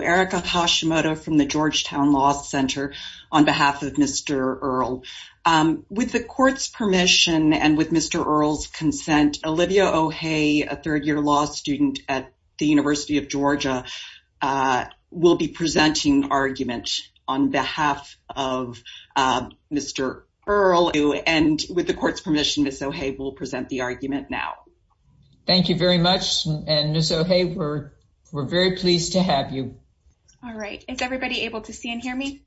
Erica Hashimoto from the Georgetown Law Center on behalf of Mr. Earle. With the court's permission and with Mr. Earle's consent, Olivia O'Hay, a third-year law student at the University of Georgia, will be presenting argument on behalf of Mr. Earle. And with the court's permission, Ms. O'Hay will present the argument now. Thank you very much, and Ms. O'Hay, we're very pleased to have you. All right. Is everybody able to see and hear me?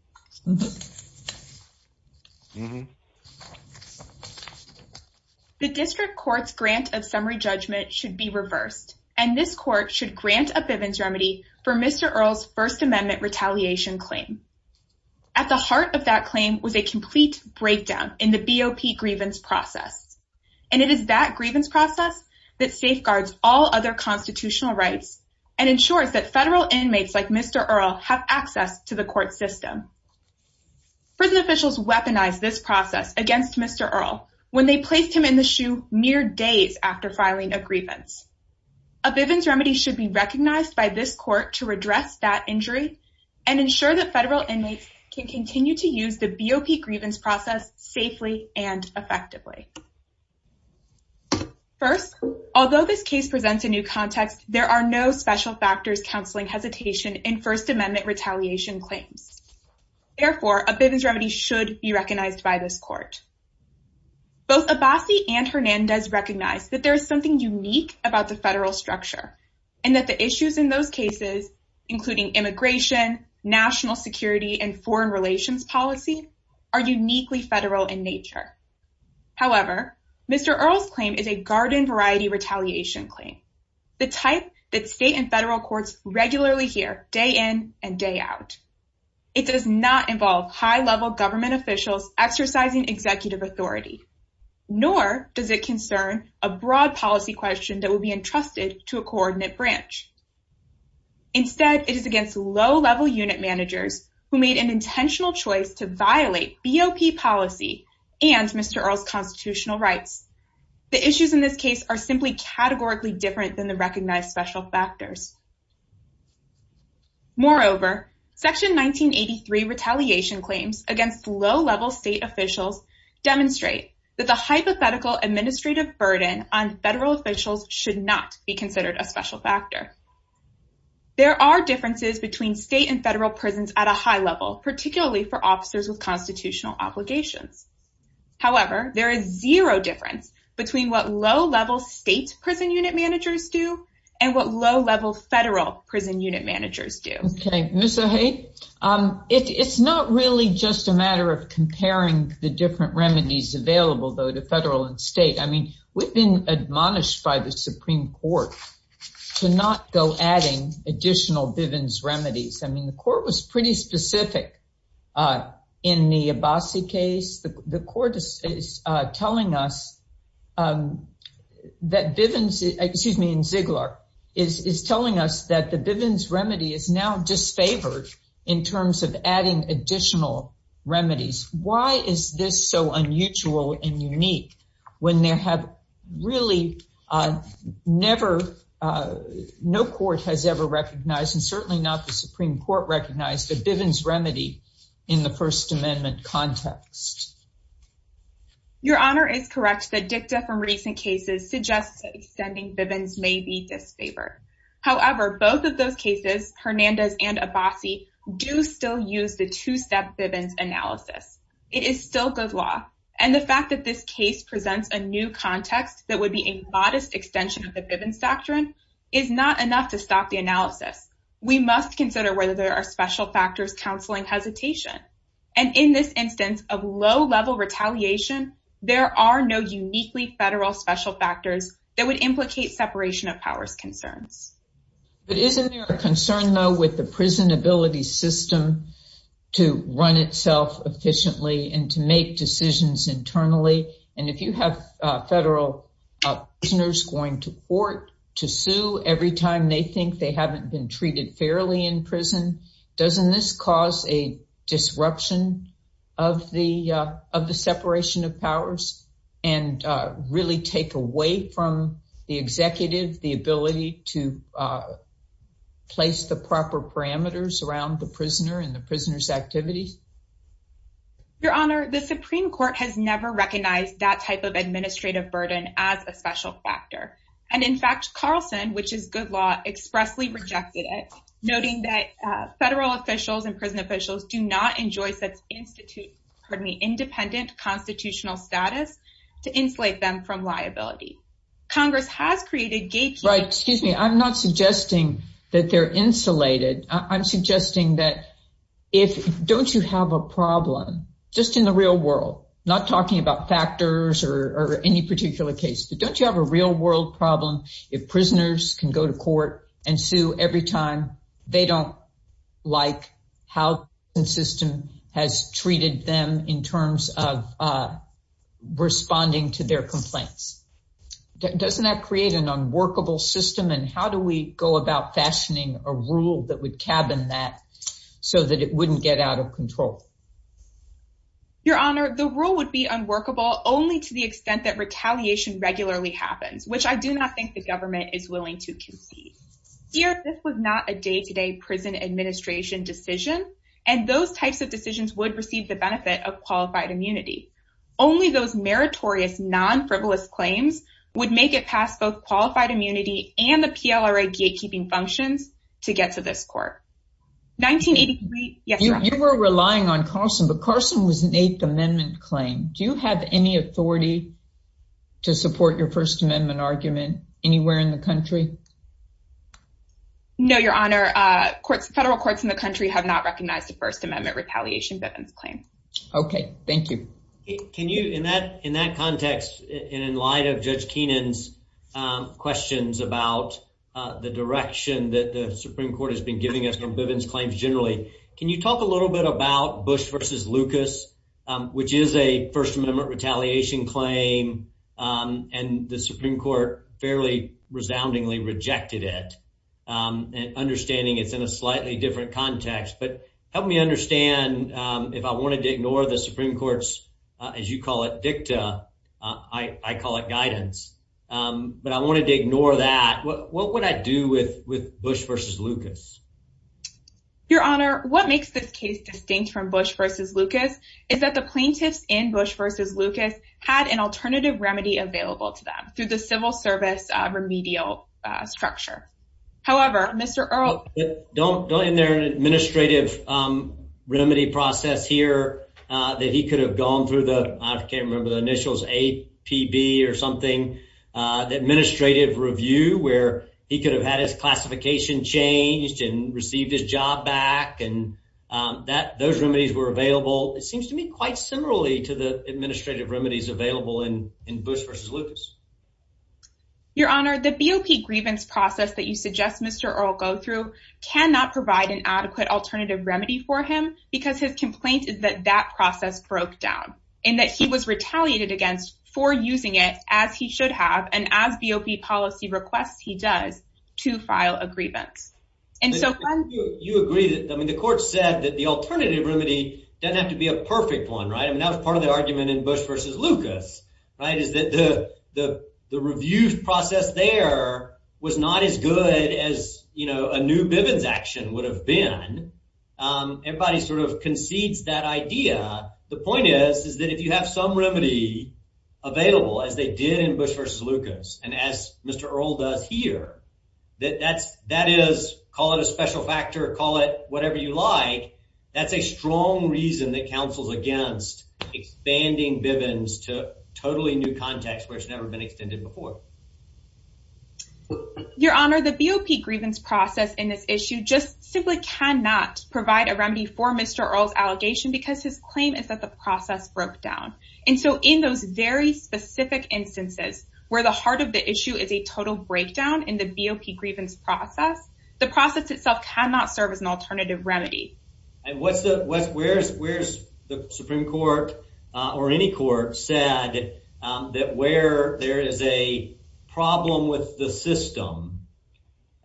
The district court's grant of summary judgment should be reversed, and this court should grant a Bivens remedy for Mr. Earle's First Amendment retaliation claim. At the heart of that claim was a complete breakdown in the BOP grievance process, and it is that grievance process that safeguards all other constitutional rights and ensures that federal inmates like Mr. Earle have access to the court system. Prison officials weaponized this process against Mr. Earle when they placed him in the shoe mere days after filing a grievance. A Bivens remedy should be recognized by this court to redress that injury and ensure that federal inmates can continue to use the BOP grievance process safely and effectively. First, although this case presents a new context, there are no special factors counseling hesitation in First Amendment retaliation claims. Therefore, a Bivens remedy should be recognized by this court. Both Abbasi and Hernandez recognize that there is something unique about the federal structure and that the issues in those cases, including immigration, national security, and foreign relations policy, are uniquely federal in nature. However, Mr. Earle's claim is a garden-variety retaliation claim, the type that state and federal courts regularly hear day in and day out. It does not involve high-level government officials exercising executive authority, nor does it concern a broad policy question that will be low-level unit managers who made an intentional choice to violate BOP policy and Mr. Earle's constitutional rights. The issues in this case are simply categorically different than the recognized special factors. Moreover, Section 1983 retaliation claims against low-level state officials demonstrate that the hypothetical administrative burden on federal officials should not be considered a special factor. There are differences between state and federal prisons at a high level, particularly for officers with constitutional obligations. However, there is zero difference between what low-level state prison unit managers do and what low-level federal prison unit managers do. It's not really just a matter of comparing the different remedies available, though, to federal and state. I mean, we've been admonished by the Supreme Court to not go adding additional Bivens remedies. I mean, the court was pretty specific in the Abbasi case. The court is telling us that Bivens, excuse me, in Ziegler, is telling us that the Bivens remedy is now disfavored in terms of adding additional remedies. Why is this so unusual and never, no court has ever recognized, and certainly not the Supreme Court recognized, the Bivens remedy in the First Amendment context? Your Honor is correct. The dicta from recent cases suggests that extending Bivens may be disfavored. However, both of those cases, Hernandez and Abbasi, do still use the two-step Bivens analysis. It is still good law, and the fact that this case presents a new context that would be a modest extension of the Bivens doctrine is not enough to stop the analysis. We must consider whether there are special factors counseling hesitation, and in this instance of low-level retaliation, there are no uniquely federal special factors that would implicate separation of powers concerns. But isn't there a concern, though, with the prison ability system to run itself efficiently and to make decisions internally? And if you have federal prisoners going to court to sue every time they think they haven't been treated fairly in prison, doesn't this cause a disruption of the separation of powers and really take away from the executive the ability to place the proper parameters around the prisoner and the prisoner's activities? Your Honor, the Supreme Court has never recognized that type of administrative burden as a special factor, and in fact Carlson, which is good law, expressly rejected it, noting that federal officials and prison officials do not enjoy such independent constitutional status to insulate them from liability. Congress has created gatekeepers... Right, excuse me, I'm not suggesting that they're insulated. I'm suggesting that if, don't you have a problem, just in the real world, not talking about factors or any particular case, but don't you have a real-world problem if prisoners can go to court and sue every time they don't like how the system has treated them in terms of responding to their complaints? Doesn't that create an unworkable system, and how do we go about fashioning a rule that would cabin that so that it wouldn't get out of control? Your Honor, the rule would be unworkable only to the extent that retaliation regularly happens, which I do not think the government is willing to concede. Here, this was not a day-to-day prison administration decision, and those types of decisions would receive the benefit of qualified immunity. Only those meritorious, non-frivolous claims would make it past both qualified immunity and the PLRA gatekeeping functions to get to this court. 1983? Yes, Your Honor. You were relying on Carson, but Carson was an Eighth Amendment claim. Do you have any authority to support your First Amendment argument anywhere in the country? No, Your Honor. Federal courts in the country have not In that context, and in light of Judge Keenan's questions about the direction that the Supreme Court has been giving us on Bivens claims generally, can you talk a little bit about Bush v. Lucas, which is a First Amendment retaliation claim, and the Supreme Court fairly resoundingly rejected it, and understanding it's in a slightly different context. But help me understand, if I wanted to ignore the Supreme Court's, as you call it, dicta, I call it guidance, but I wanted to ignore that. What would I do with Bush v. Lucas? Your Honor, what makes this case distinct from Bush v. Lucas is that the plaintiffs in Bush v. Lucas had an alternative remedy available to them through the civil service remedial structure. However, Mr. Earle... Don't go in there an administrative remedy process here that he could have gone through the, I can't remember the initials, APB or something, the administrative review where he could have had his classification changed and received his job back, and those remedies were available. It seems to me quite similarly to the administrative remedies available in Bush v. Lucas. Your Honor, the BOP grievance process that you suggest Mr. Earle go through cannot provide an adequate alternative remedy for him because his complaint is that that process broke down, and that he was retaliated against for using it as he should have, and as BOP policy requests he does, to file a grievance. And so... You agree that, I mean, the court said that the alternative remedy doesn't have to be a perfect one, right? I mean, that was part of the argument in Bush v. Lucas, right? Is that the review process there was not as good as, you know, a new Bivens action would have been. Everybody sort of concedes that idea. The point is is that if you have some remedy available, as they did in Bush v. Lucas, and as Mr. Earle does here, that is, call it a special factor, call it whatever you like, that's a strong reason that counsels against expanding Bivens to totally new context where it's never been extended before. Your Honor, the BOP grievance process in this issue just simply cannot provide a remedy for Mr. Earle's allegation because his claim is that the process broke down. And so, in those very specific instances where the heart of the issue is a total breakdown in the BOP grievance process, the process itself cannot serve as an alternative remedy. And where's the Supreme Court, or any court, said that where there is a problem with the system,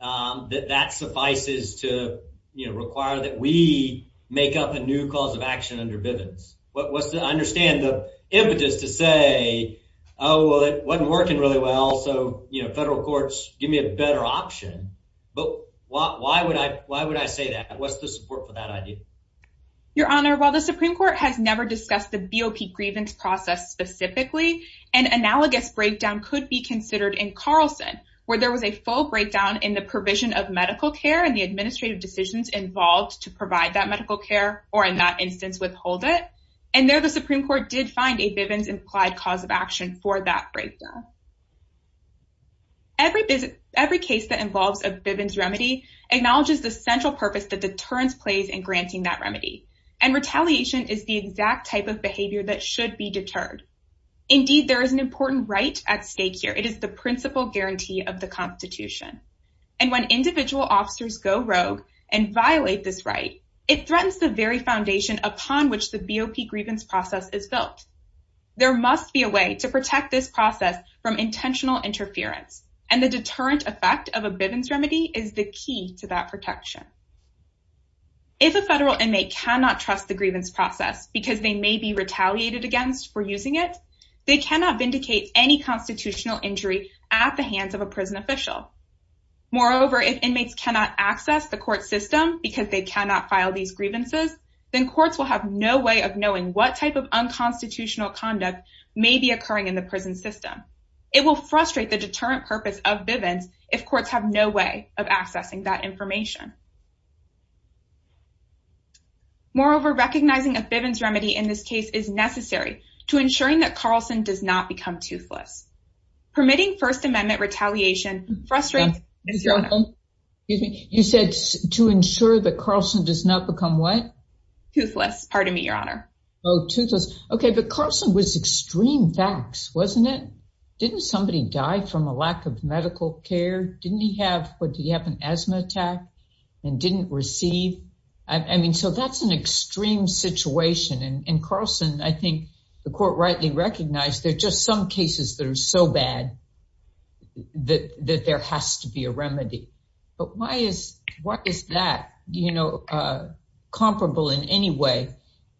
that that suffices to, you know, require that we make up a new cause of action under Bivens? What's the, I understand the impetus to say, oh, well, it wasn't working really well, so, you know, federal courts give me a better option. But why would I, why would I say that? What's the support for that idea? Your Honor, while the Supreme Court has specifically, an analogous breakdown could be considered in Carlson, where there was a full breakdown in the provision of medical care and the administrative decisions involved to provide that medical care, or in that instance, withhold it. And there, the Supreme Court did find a Bivens implied cause of action for that breakdown. Every case that involves a Bivens remedy acknowledges the central purpose that deterrence plays in granting that remedy. And retaliation is the exact type of behavior that should be deterred. Indeed, there is an important right at stake here. It is the principal guarantee of the Constitution. And when individual officers go rogue and violate this right, it threatens the very foundation upon which the BOP grievance process is built. There must be a way to protect this process from intentional interference. And the deterrent effect of a Bivens remedy is the key to that protection. If a federal inmate cannot trust the grievance process because they may be retaliated against for using it, they cannot vindicate any constitutional injury at the hands of a prison official. Moreover, if inmates cannot access the court system because they cannot file these grievances, then courts will have no way of knowing what type of unconstitutional conduct may be occurring in the prison system. It will frustrate the deterrent purpose of Bivens if courts have no way of accessing that information. Moreover, recognizing a Bivens remedy in this case is necessary to ensuring that Carlson does not become toothless. Permitting First Amendment retaliation frustrates. You said to ensure that Carlson does not become what? Toothless. Pardon me, Your Honor. Oh, toothless. Okay. But Carlson was extreme facts, wasn't it? Didn't somebody die from a lack of medical care? Didn't he have what? Do you have an asthma attack and didn't receive? I mean, so that's an extreme situation. And Carlson, I think the court rightly recognized. They're just some cases that are so bad that there has to be a remedy. But why is what is that? You know, uh, comparable in any way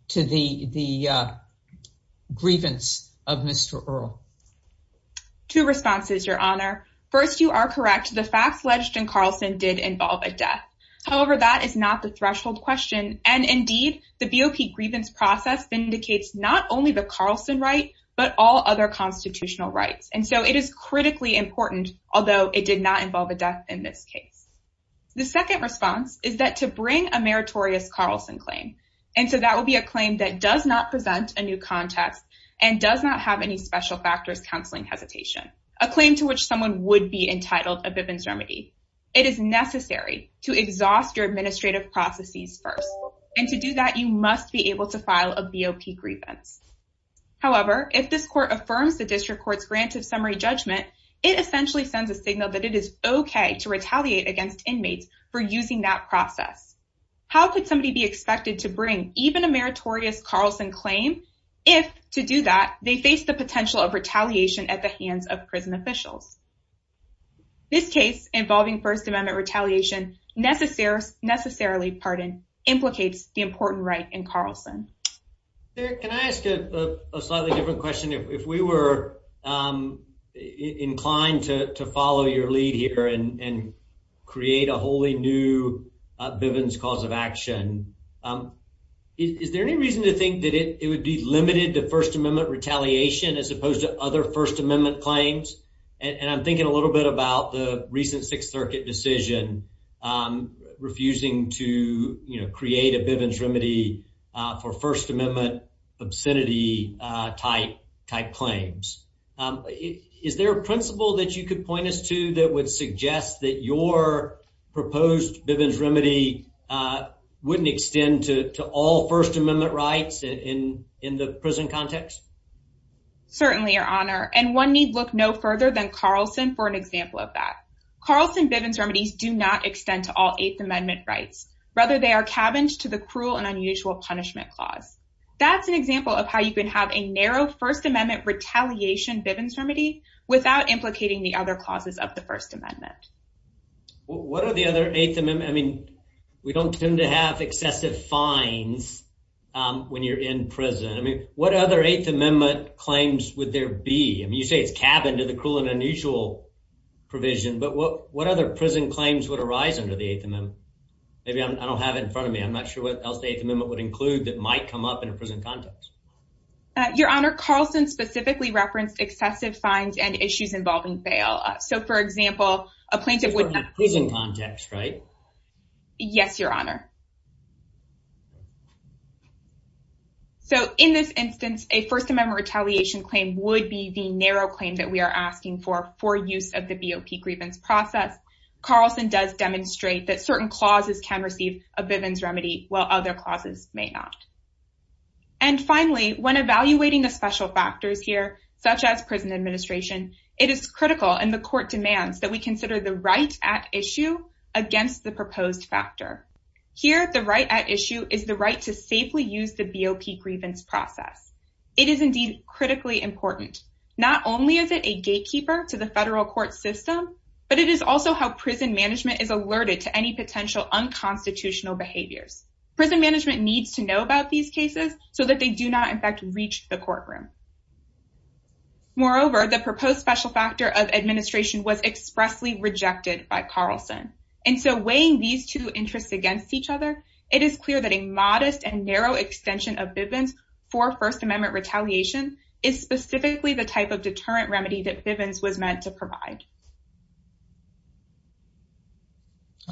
to the the, uh, grievance of Mr Earl. Two responses, Your Honor. First, you are correct. The facts alleged in Carlson did involve a death. However, that is not the threshold question. And indeed, the B. O. P. Grievance process vindicates not only the Carlson right, but all other constitutional rights. And so it is critically important, although it did not involve a death in this case. The second response is that to bring a meritorious Carlson claim. And so that will be a claim that does not present a new context and does not have any special factors. Counseling hesitation, a claim to which someone would be entitled a Bivens remedy. It is necessary to exhaust your administrative processes first, and to do that, you must be able to file a B. O. P. Grievance. However, if this court affirms the district court's granted summary judgment, it essentially sends a signal that it is okay to retaliate against inmates for using that process. How could somebody be expected to bring even a meritorious Carlson claim? If to do that, they face the potential of retaliation at the hands of prison officials. This case involving First Amendment retaliation necessary necessarily pardon implicates the important right in Carlson. Can I ask a slightly different question? If we were, um, inclined to follow your action, um, is there any reason to think that it would be limited to First Amendment retaliation as opposed to other First Amendment claims? And I'm thinking a little bit about the recent Sixth Circuit decision, um, refusing to, you know, create a Bivens remedy for First Amendment obscenity type type claims. Is there a principle that you could point us to that would suggest that your proposed Bivens remedy, uh, wouldn't extend to all First Amendment rights in in the prison context? Certainly, Your Honor. And one need look no further than Carlson for an example of that. Carlson Bivens remedies do not extend to all Eighth Amendment rights. Rather, they are cabins to the cruel and unusual punishment clause. That's an example of how you can have a narrow First Amendment retaliation Bivens remedy without implicating the other clauses of the First Amendment. What are the other Eighth Amendment? I mean, we don't tend to have excessive fines when you're in prison. I mean, what other Eighth Amendment claims would there be? I mean, you say it's cabin to the cruel and unusual provision. But what what other prison claims would arise under the Eighth Amendment? Maybe I don't have it in front of me. I'm not sure what else the Eighth Amendment would include that might come up in a prison context. Your Honor, Carlson specifically referenced excessive fines and issues involving bail. So, for example, a plaintiff would have prison context, right? Yes, Your Honor. So in this instance, a First Amendment retaliation claim would be the narrow claim that we are asking for for use of the BOP grievance process. Carlson does demonstrate that certain clauses can receive a Bivens remedy, while other clauses may not. And finally, when evaluating the special factors here, such as prison administration, it is critical in the court demands that we consider the right at issue against the proposed factor. Here, the right at issue is the right to safely use the BOP grievance process. It is indeed critically important. Not only is it a gatekeeper to the federal court system, but it is also how prison management is alerted to any potential unconstitutional behaviors. Prison management needs to know about these Moreover, the proposed special factor of administration was expressly rejected by Carlson. And so weighing these two interests against each other, it is clear that a modest and narrow extension of Bivens for First Amendment retaliation is specifically the type of deterrent remedy that Bivens was meant to provide.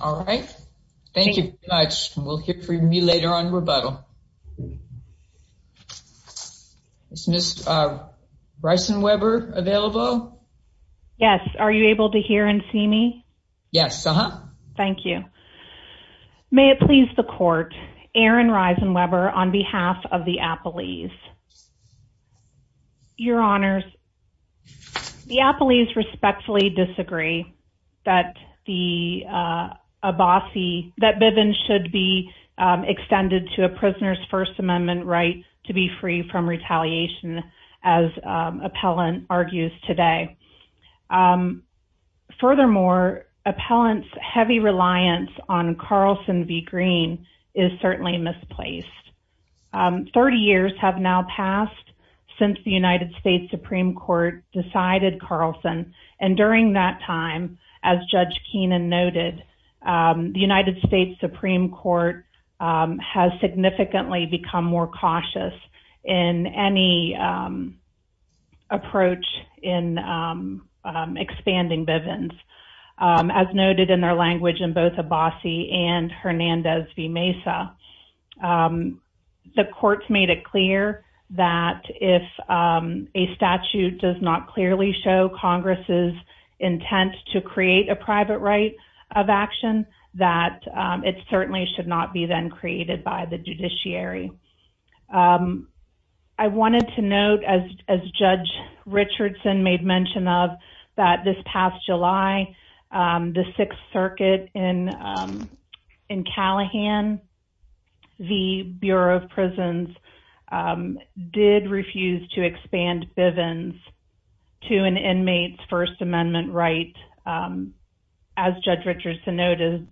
All right. Thank you very much. We'll hear from you later on rebuttal. Is Ms. Risenweber available? Yes. Are you able to hear and see me? Yes. Thank you. May it please the court, Erin Risenweber on behalf of the Appellees. Your Honors, the Appellees respectfully disagree that the Bivens should be extended to a prisoner's First Amendment right to be free from retaliation, as Appellant argues today. Furthermore, Appellant's heavy reliance on Carlson v. Green is certainly misplaced. 30 years have now passed since the United States Supreme Court decided Carlson. And during that time, as Judge Keenan noted, the United States Supreme Court has significantly become more cautious in any approach in expanding Bivens, as noted in their language in both Abbasi and Hernandez v. Mesa. The courts made it clear that if a statute does not clearly show Congress's intent to create a private right of action, that it certainly should not be then created by the judiciary. I wanted to note, as Judge Richardson made mention of, that this past July, the Sixth Circuit in Callahan v. Bureau of Prisons did refuse to expand Bivens to an inmate's First Amendment right. As Judge Richardson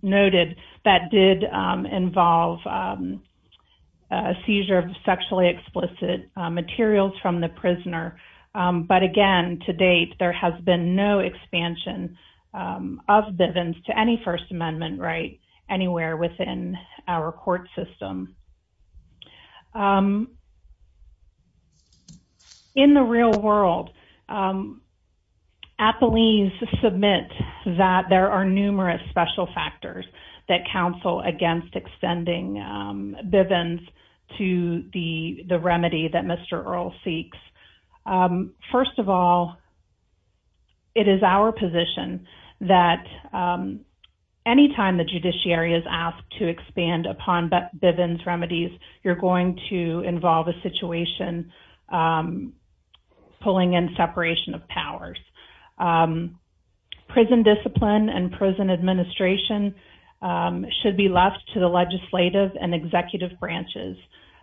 noted, that did involve a seizure of sexually explicit materials from the prisoner. But again, to date, there has been no expansion of Bivens to any First Amendment right anywhere within our court system. In the real world, Appellees submit that there are numerous special factors that counsel against extending Bivens to the remedy that Mr. Earle seeks. First of all, it is our position that anytime the judiciary is asked to expand upon Bivens remedies, you're going to involve a situation pulling in separation of left to the legislative and executive branches.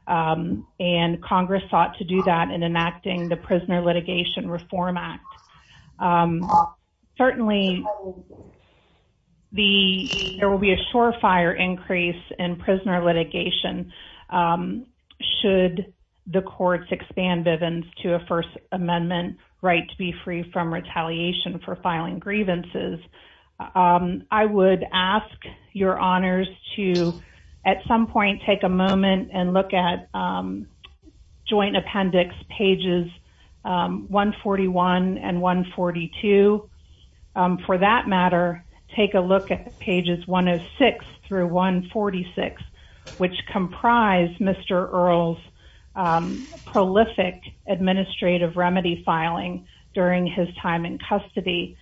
And Congress sought to do that in enacting the Prisoner Litigation Reform Act. Certainly, there will be a surefire increase in prisoner litigation should the courts expand Bivens to a First Amendment right to be free from retaliation for filing grievances. I would ask your honors to, at some point, take a moment and look at Joint Appendix pages 141 and 142. For that matter, take a look at pages 106 through 146, which comprise Mr. Earle's prolific administrative remedy filing during his time in custody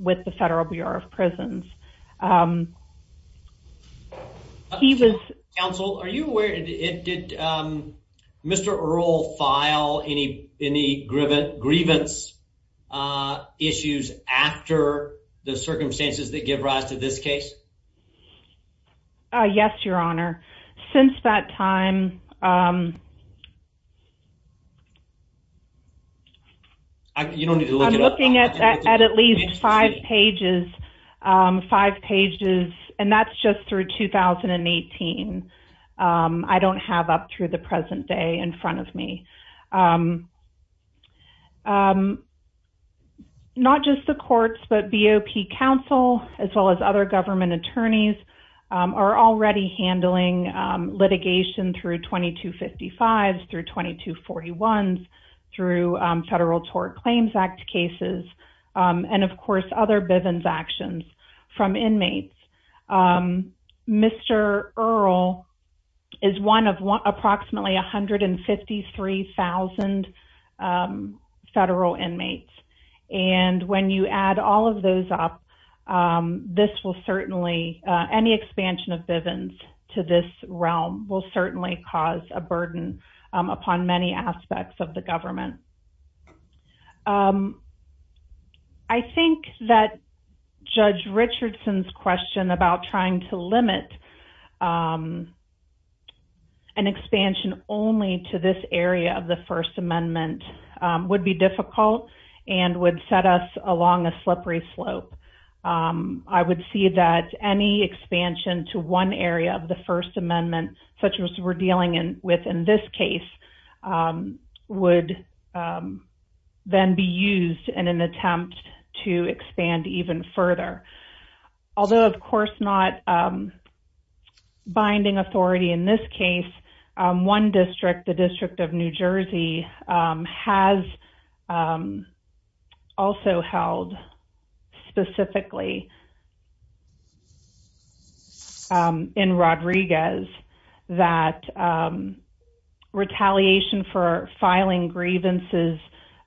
with the Federal Bureau of Prisons. Counsel, are you aware, did Mr. Earle file any grievance issues after the circumstances that give rise to this case? Yes, your honor. Since that time... I'm looking at at least five pages, five pages, and that's just through 2018. I don't have up through the present day in front of me. Not just the courts, but BOP counsel, as well as other government attorneys, are already handling litigation through 2255s, through 2241s, through Federal Tort Claims Act cases, and, of course, other Bivens actions from inmates. Mr. Earle is one of approximately 153,000 federal inmates, and when you add all of those up, this will certainly... any expansion of Bivens to this realm will certainly cause a burden upon many aspects of the government. I think that Judge Richardson's question about trying to limit an expansion only to this area of the First Amendment would be difficult and would set us along a slippery slope. I would see that any expansion to one area of the First Amendment, such as we're dealing with in this case, would then be used in an attempt to expand even further. Although, of course, not binding authority in this case, one district, the District of New York, in Rodriguez, that retaliation for filing grievances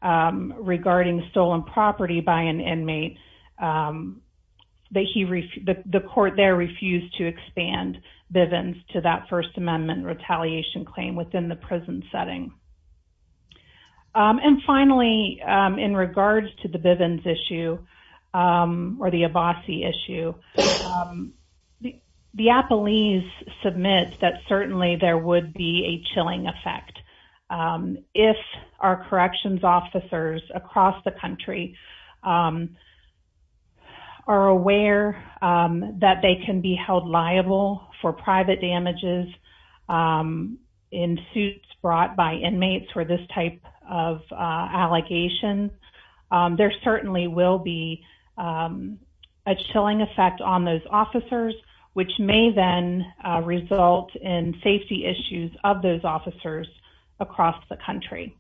regarding stolen property by an inmate, the court there refused to expand Bivens to that First Amendment retaliation claim within the prison setting. Finally, in regards to the Bivens issue or the Abbasi issue, the Appelese submits that certainly there would be a chilling effect. If our corrections officers across the country are aware that they can be held liable for private damages in suits brought by inmates for this type of allegation, there certainly will be a chilling effect on those officers, which may then result in safety issues of those officers across the country.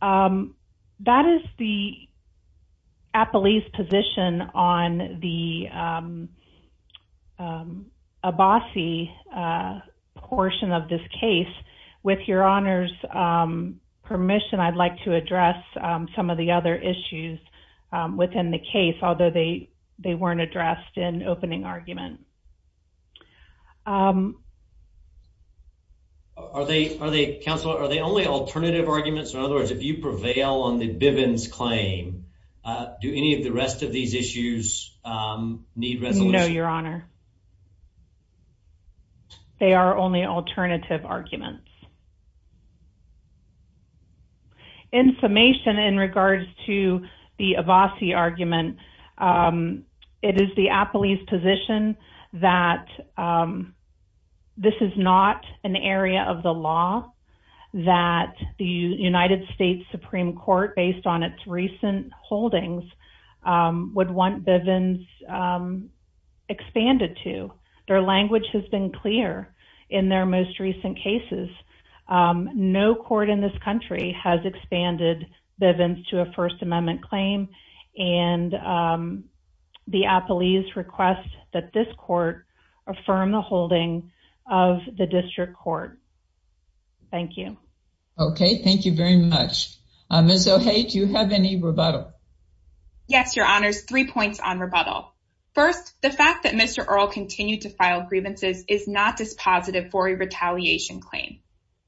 That is the Appelese position on the Abbasi portion of this case. With Your Honor's permission, I'd like to address some of the other issues within the case, although they they weren't addressed in opening argument. Are they, are they, Counselor, are they only alternative arguments? In other words, if you prevail on the Bivens claim, do any of the rest of these issues need resolution? No, Your Honor. They are only alternative arguments. In summation, in regards to the Abbasi argument, it is the Appelese position that this is not an area of the law that the United States Supreme Court, based on its recent holdings, would want Bivens expanded to. Their language has been clear in their most recent cases. No court in this country has expanded Bivens to a First Amendment claim, and the Appelese request that this court affirm the holding of the district court. Thank you. Okay, thank you very much. Ms. O'Haye, do you have any rebuttal? Yes, Your Honor's three points on rebuttal. First, the fact that Mr. Earle continued to file grievances is not dispositive for a retaliation claim.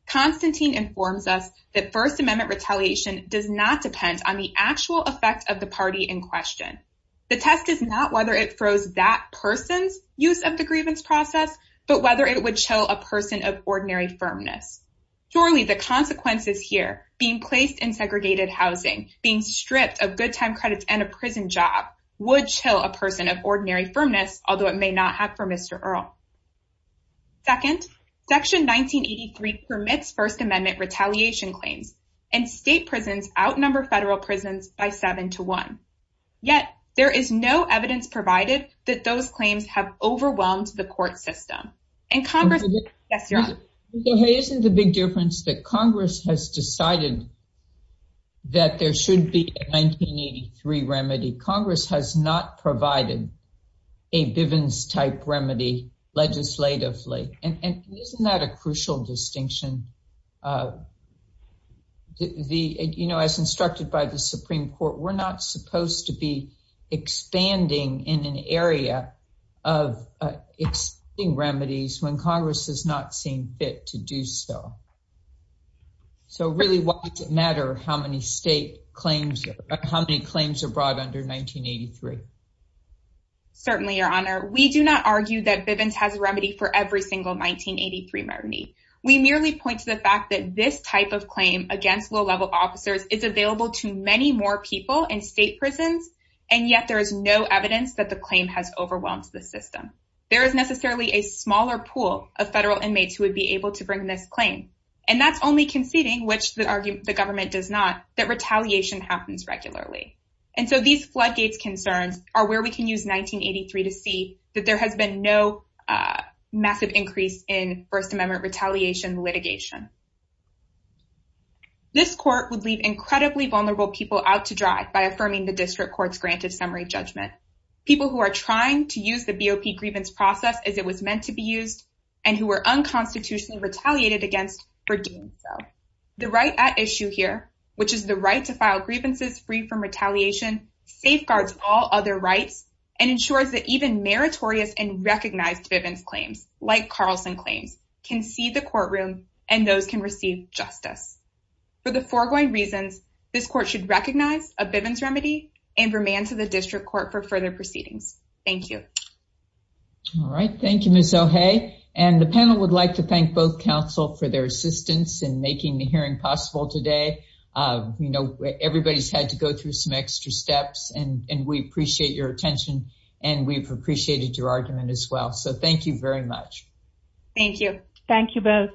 Constantine informs us that First Amendment retaliation does not depend on the actual effect of the party in question. The test is not whether it froze that person's use of the grievance process, but whether it would show a person of ordinary firmness. Surely the consequences here, being placed in segregated housing, being stripped of good time credits and a prison job, would chill a person of ordinary firmness, although it may not have for Mr. Earle. Second, Section 1983 permits First Amendment retaliation claims, and state prisons outnumber federal prisons by seven to one. Yet, there is no evidence provided that those claims have overwhelmed the court system. And Congress... Yes, Your Honor. Isn't the big difference that Congress has decided that there should be a 1983 remedy? Congress has not provided a Bivens-type remedy legislatively. And isn't that a crucial distinction? You know, as instructed by the Supreme Court, we're not supposed to be expanding in when Congress has not seen fit to do so. So really, why does it matter how many state claims... how many claims are brought under 1983? Certainly, Your Honor. We do not argue that Bivens has a remedy for every single 1983 remedy. We merely point to the fact that this type of claim against low-level officers is available to many more people in state prisons, and yet there is no evidence that the claim has overwhelmed the system. There is necessarily a smaller pool of federal inmates who would be able to bring this claim. And that's only conceding, which the government does not, that retaliation happens regularly. And so these floodgates concerns are where we can use 1983 to see that there has been no massive increase in First Amendment retaliation litigation. This court would leave incredibly vulnerable people out to dry by affirming the district court's granted summary judgment. People who are trying to use the BOP grievance process as it was meant to be used, and who were unconstitutionally retaliated against for doing so. The right at issue here, which is the right to file grievances free from retaliation, safeguards all other rights, and ensures that even meritorious and recognized Bivens claims, like Carlson claims, can see the courtroom and those can receive justice. For the foregoing reasons, this court should recognize a Bivens remedy and remand to the district court for further proceedings. Thank you. All right. Thank you, Ms. O'Haye. And the panel would like to thank both counsel for their assistance in making the hearing possible today. You know, everybody's had to go through some extra steps, and we appreciate your attention. And we've appreciated your argument as well. So thank you very much. Thank you. Thank you both.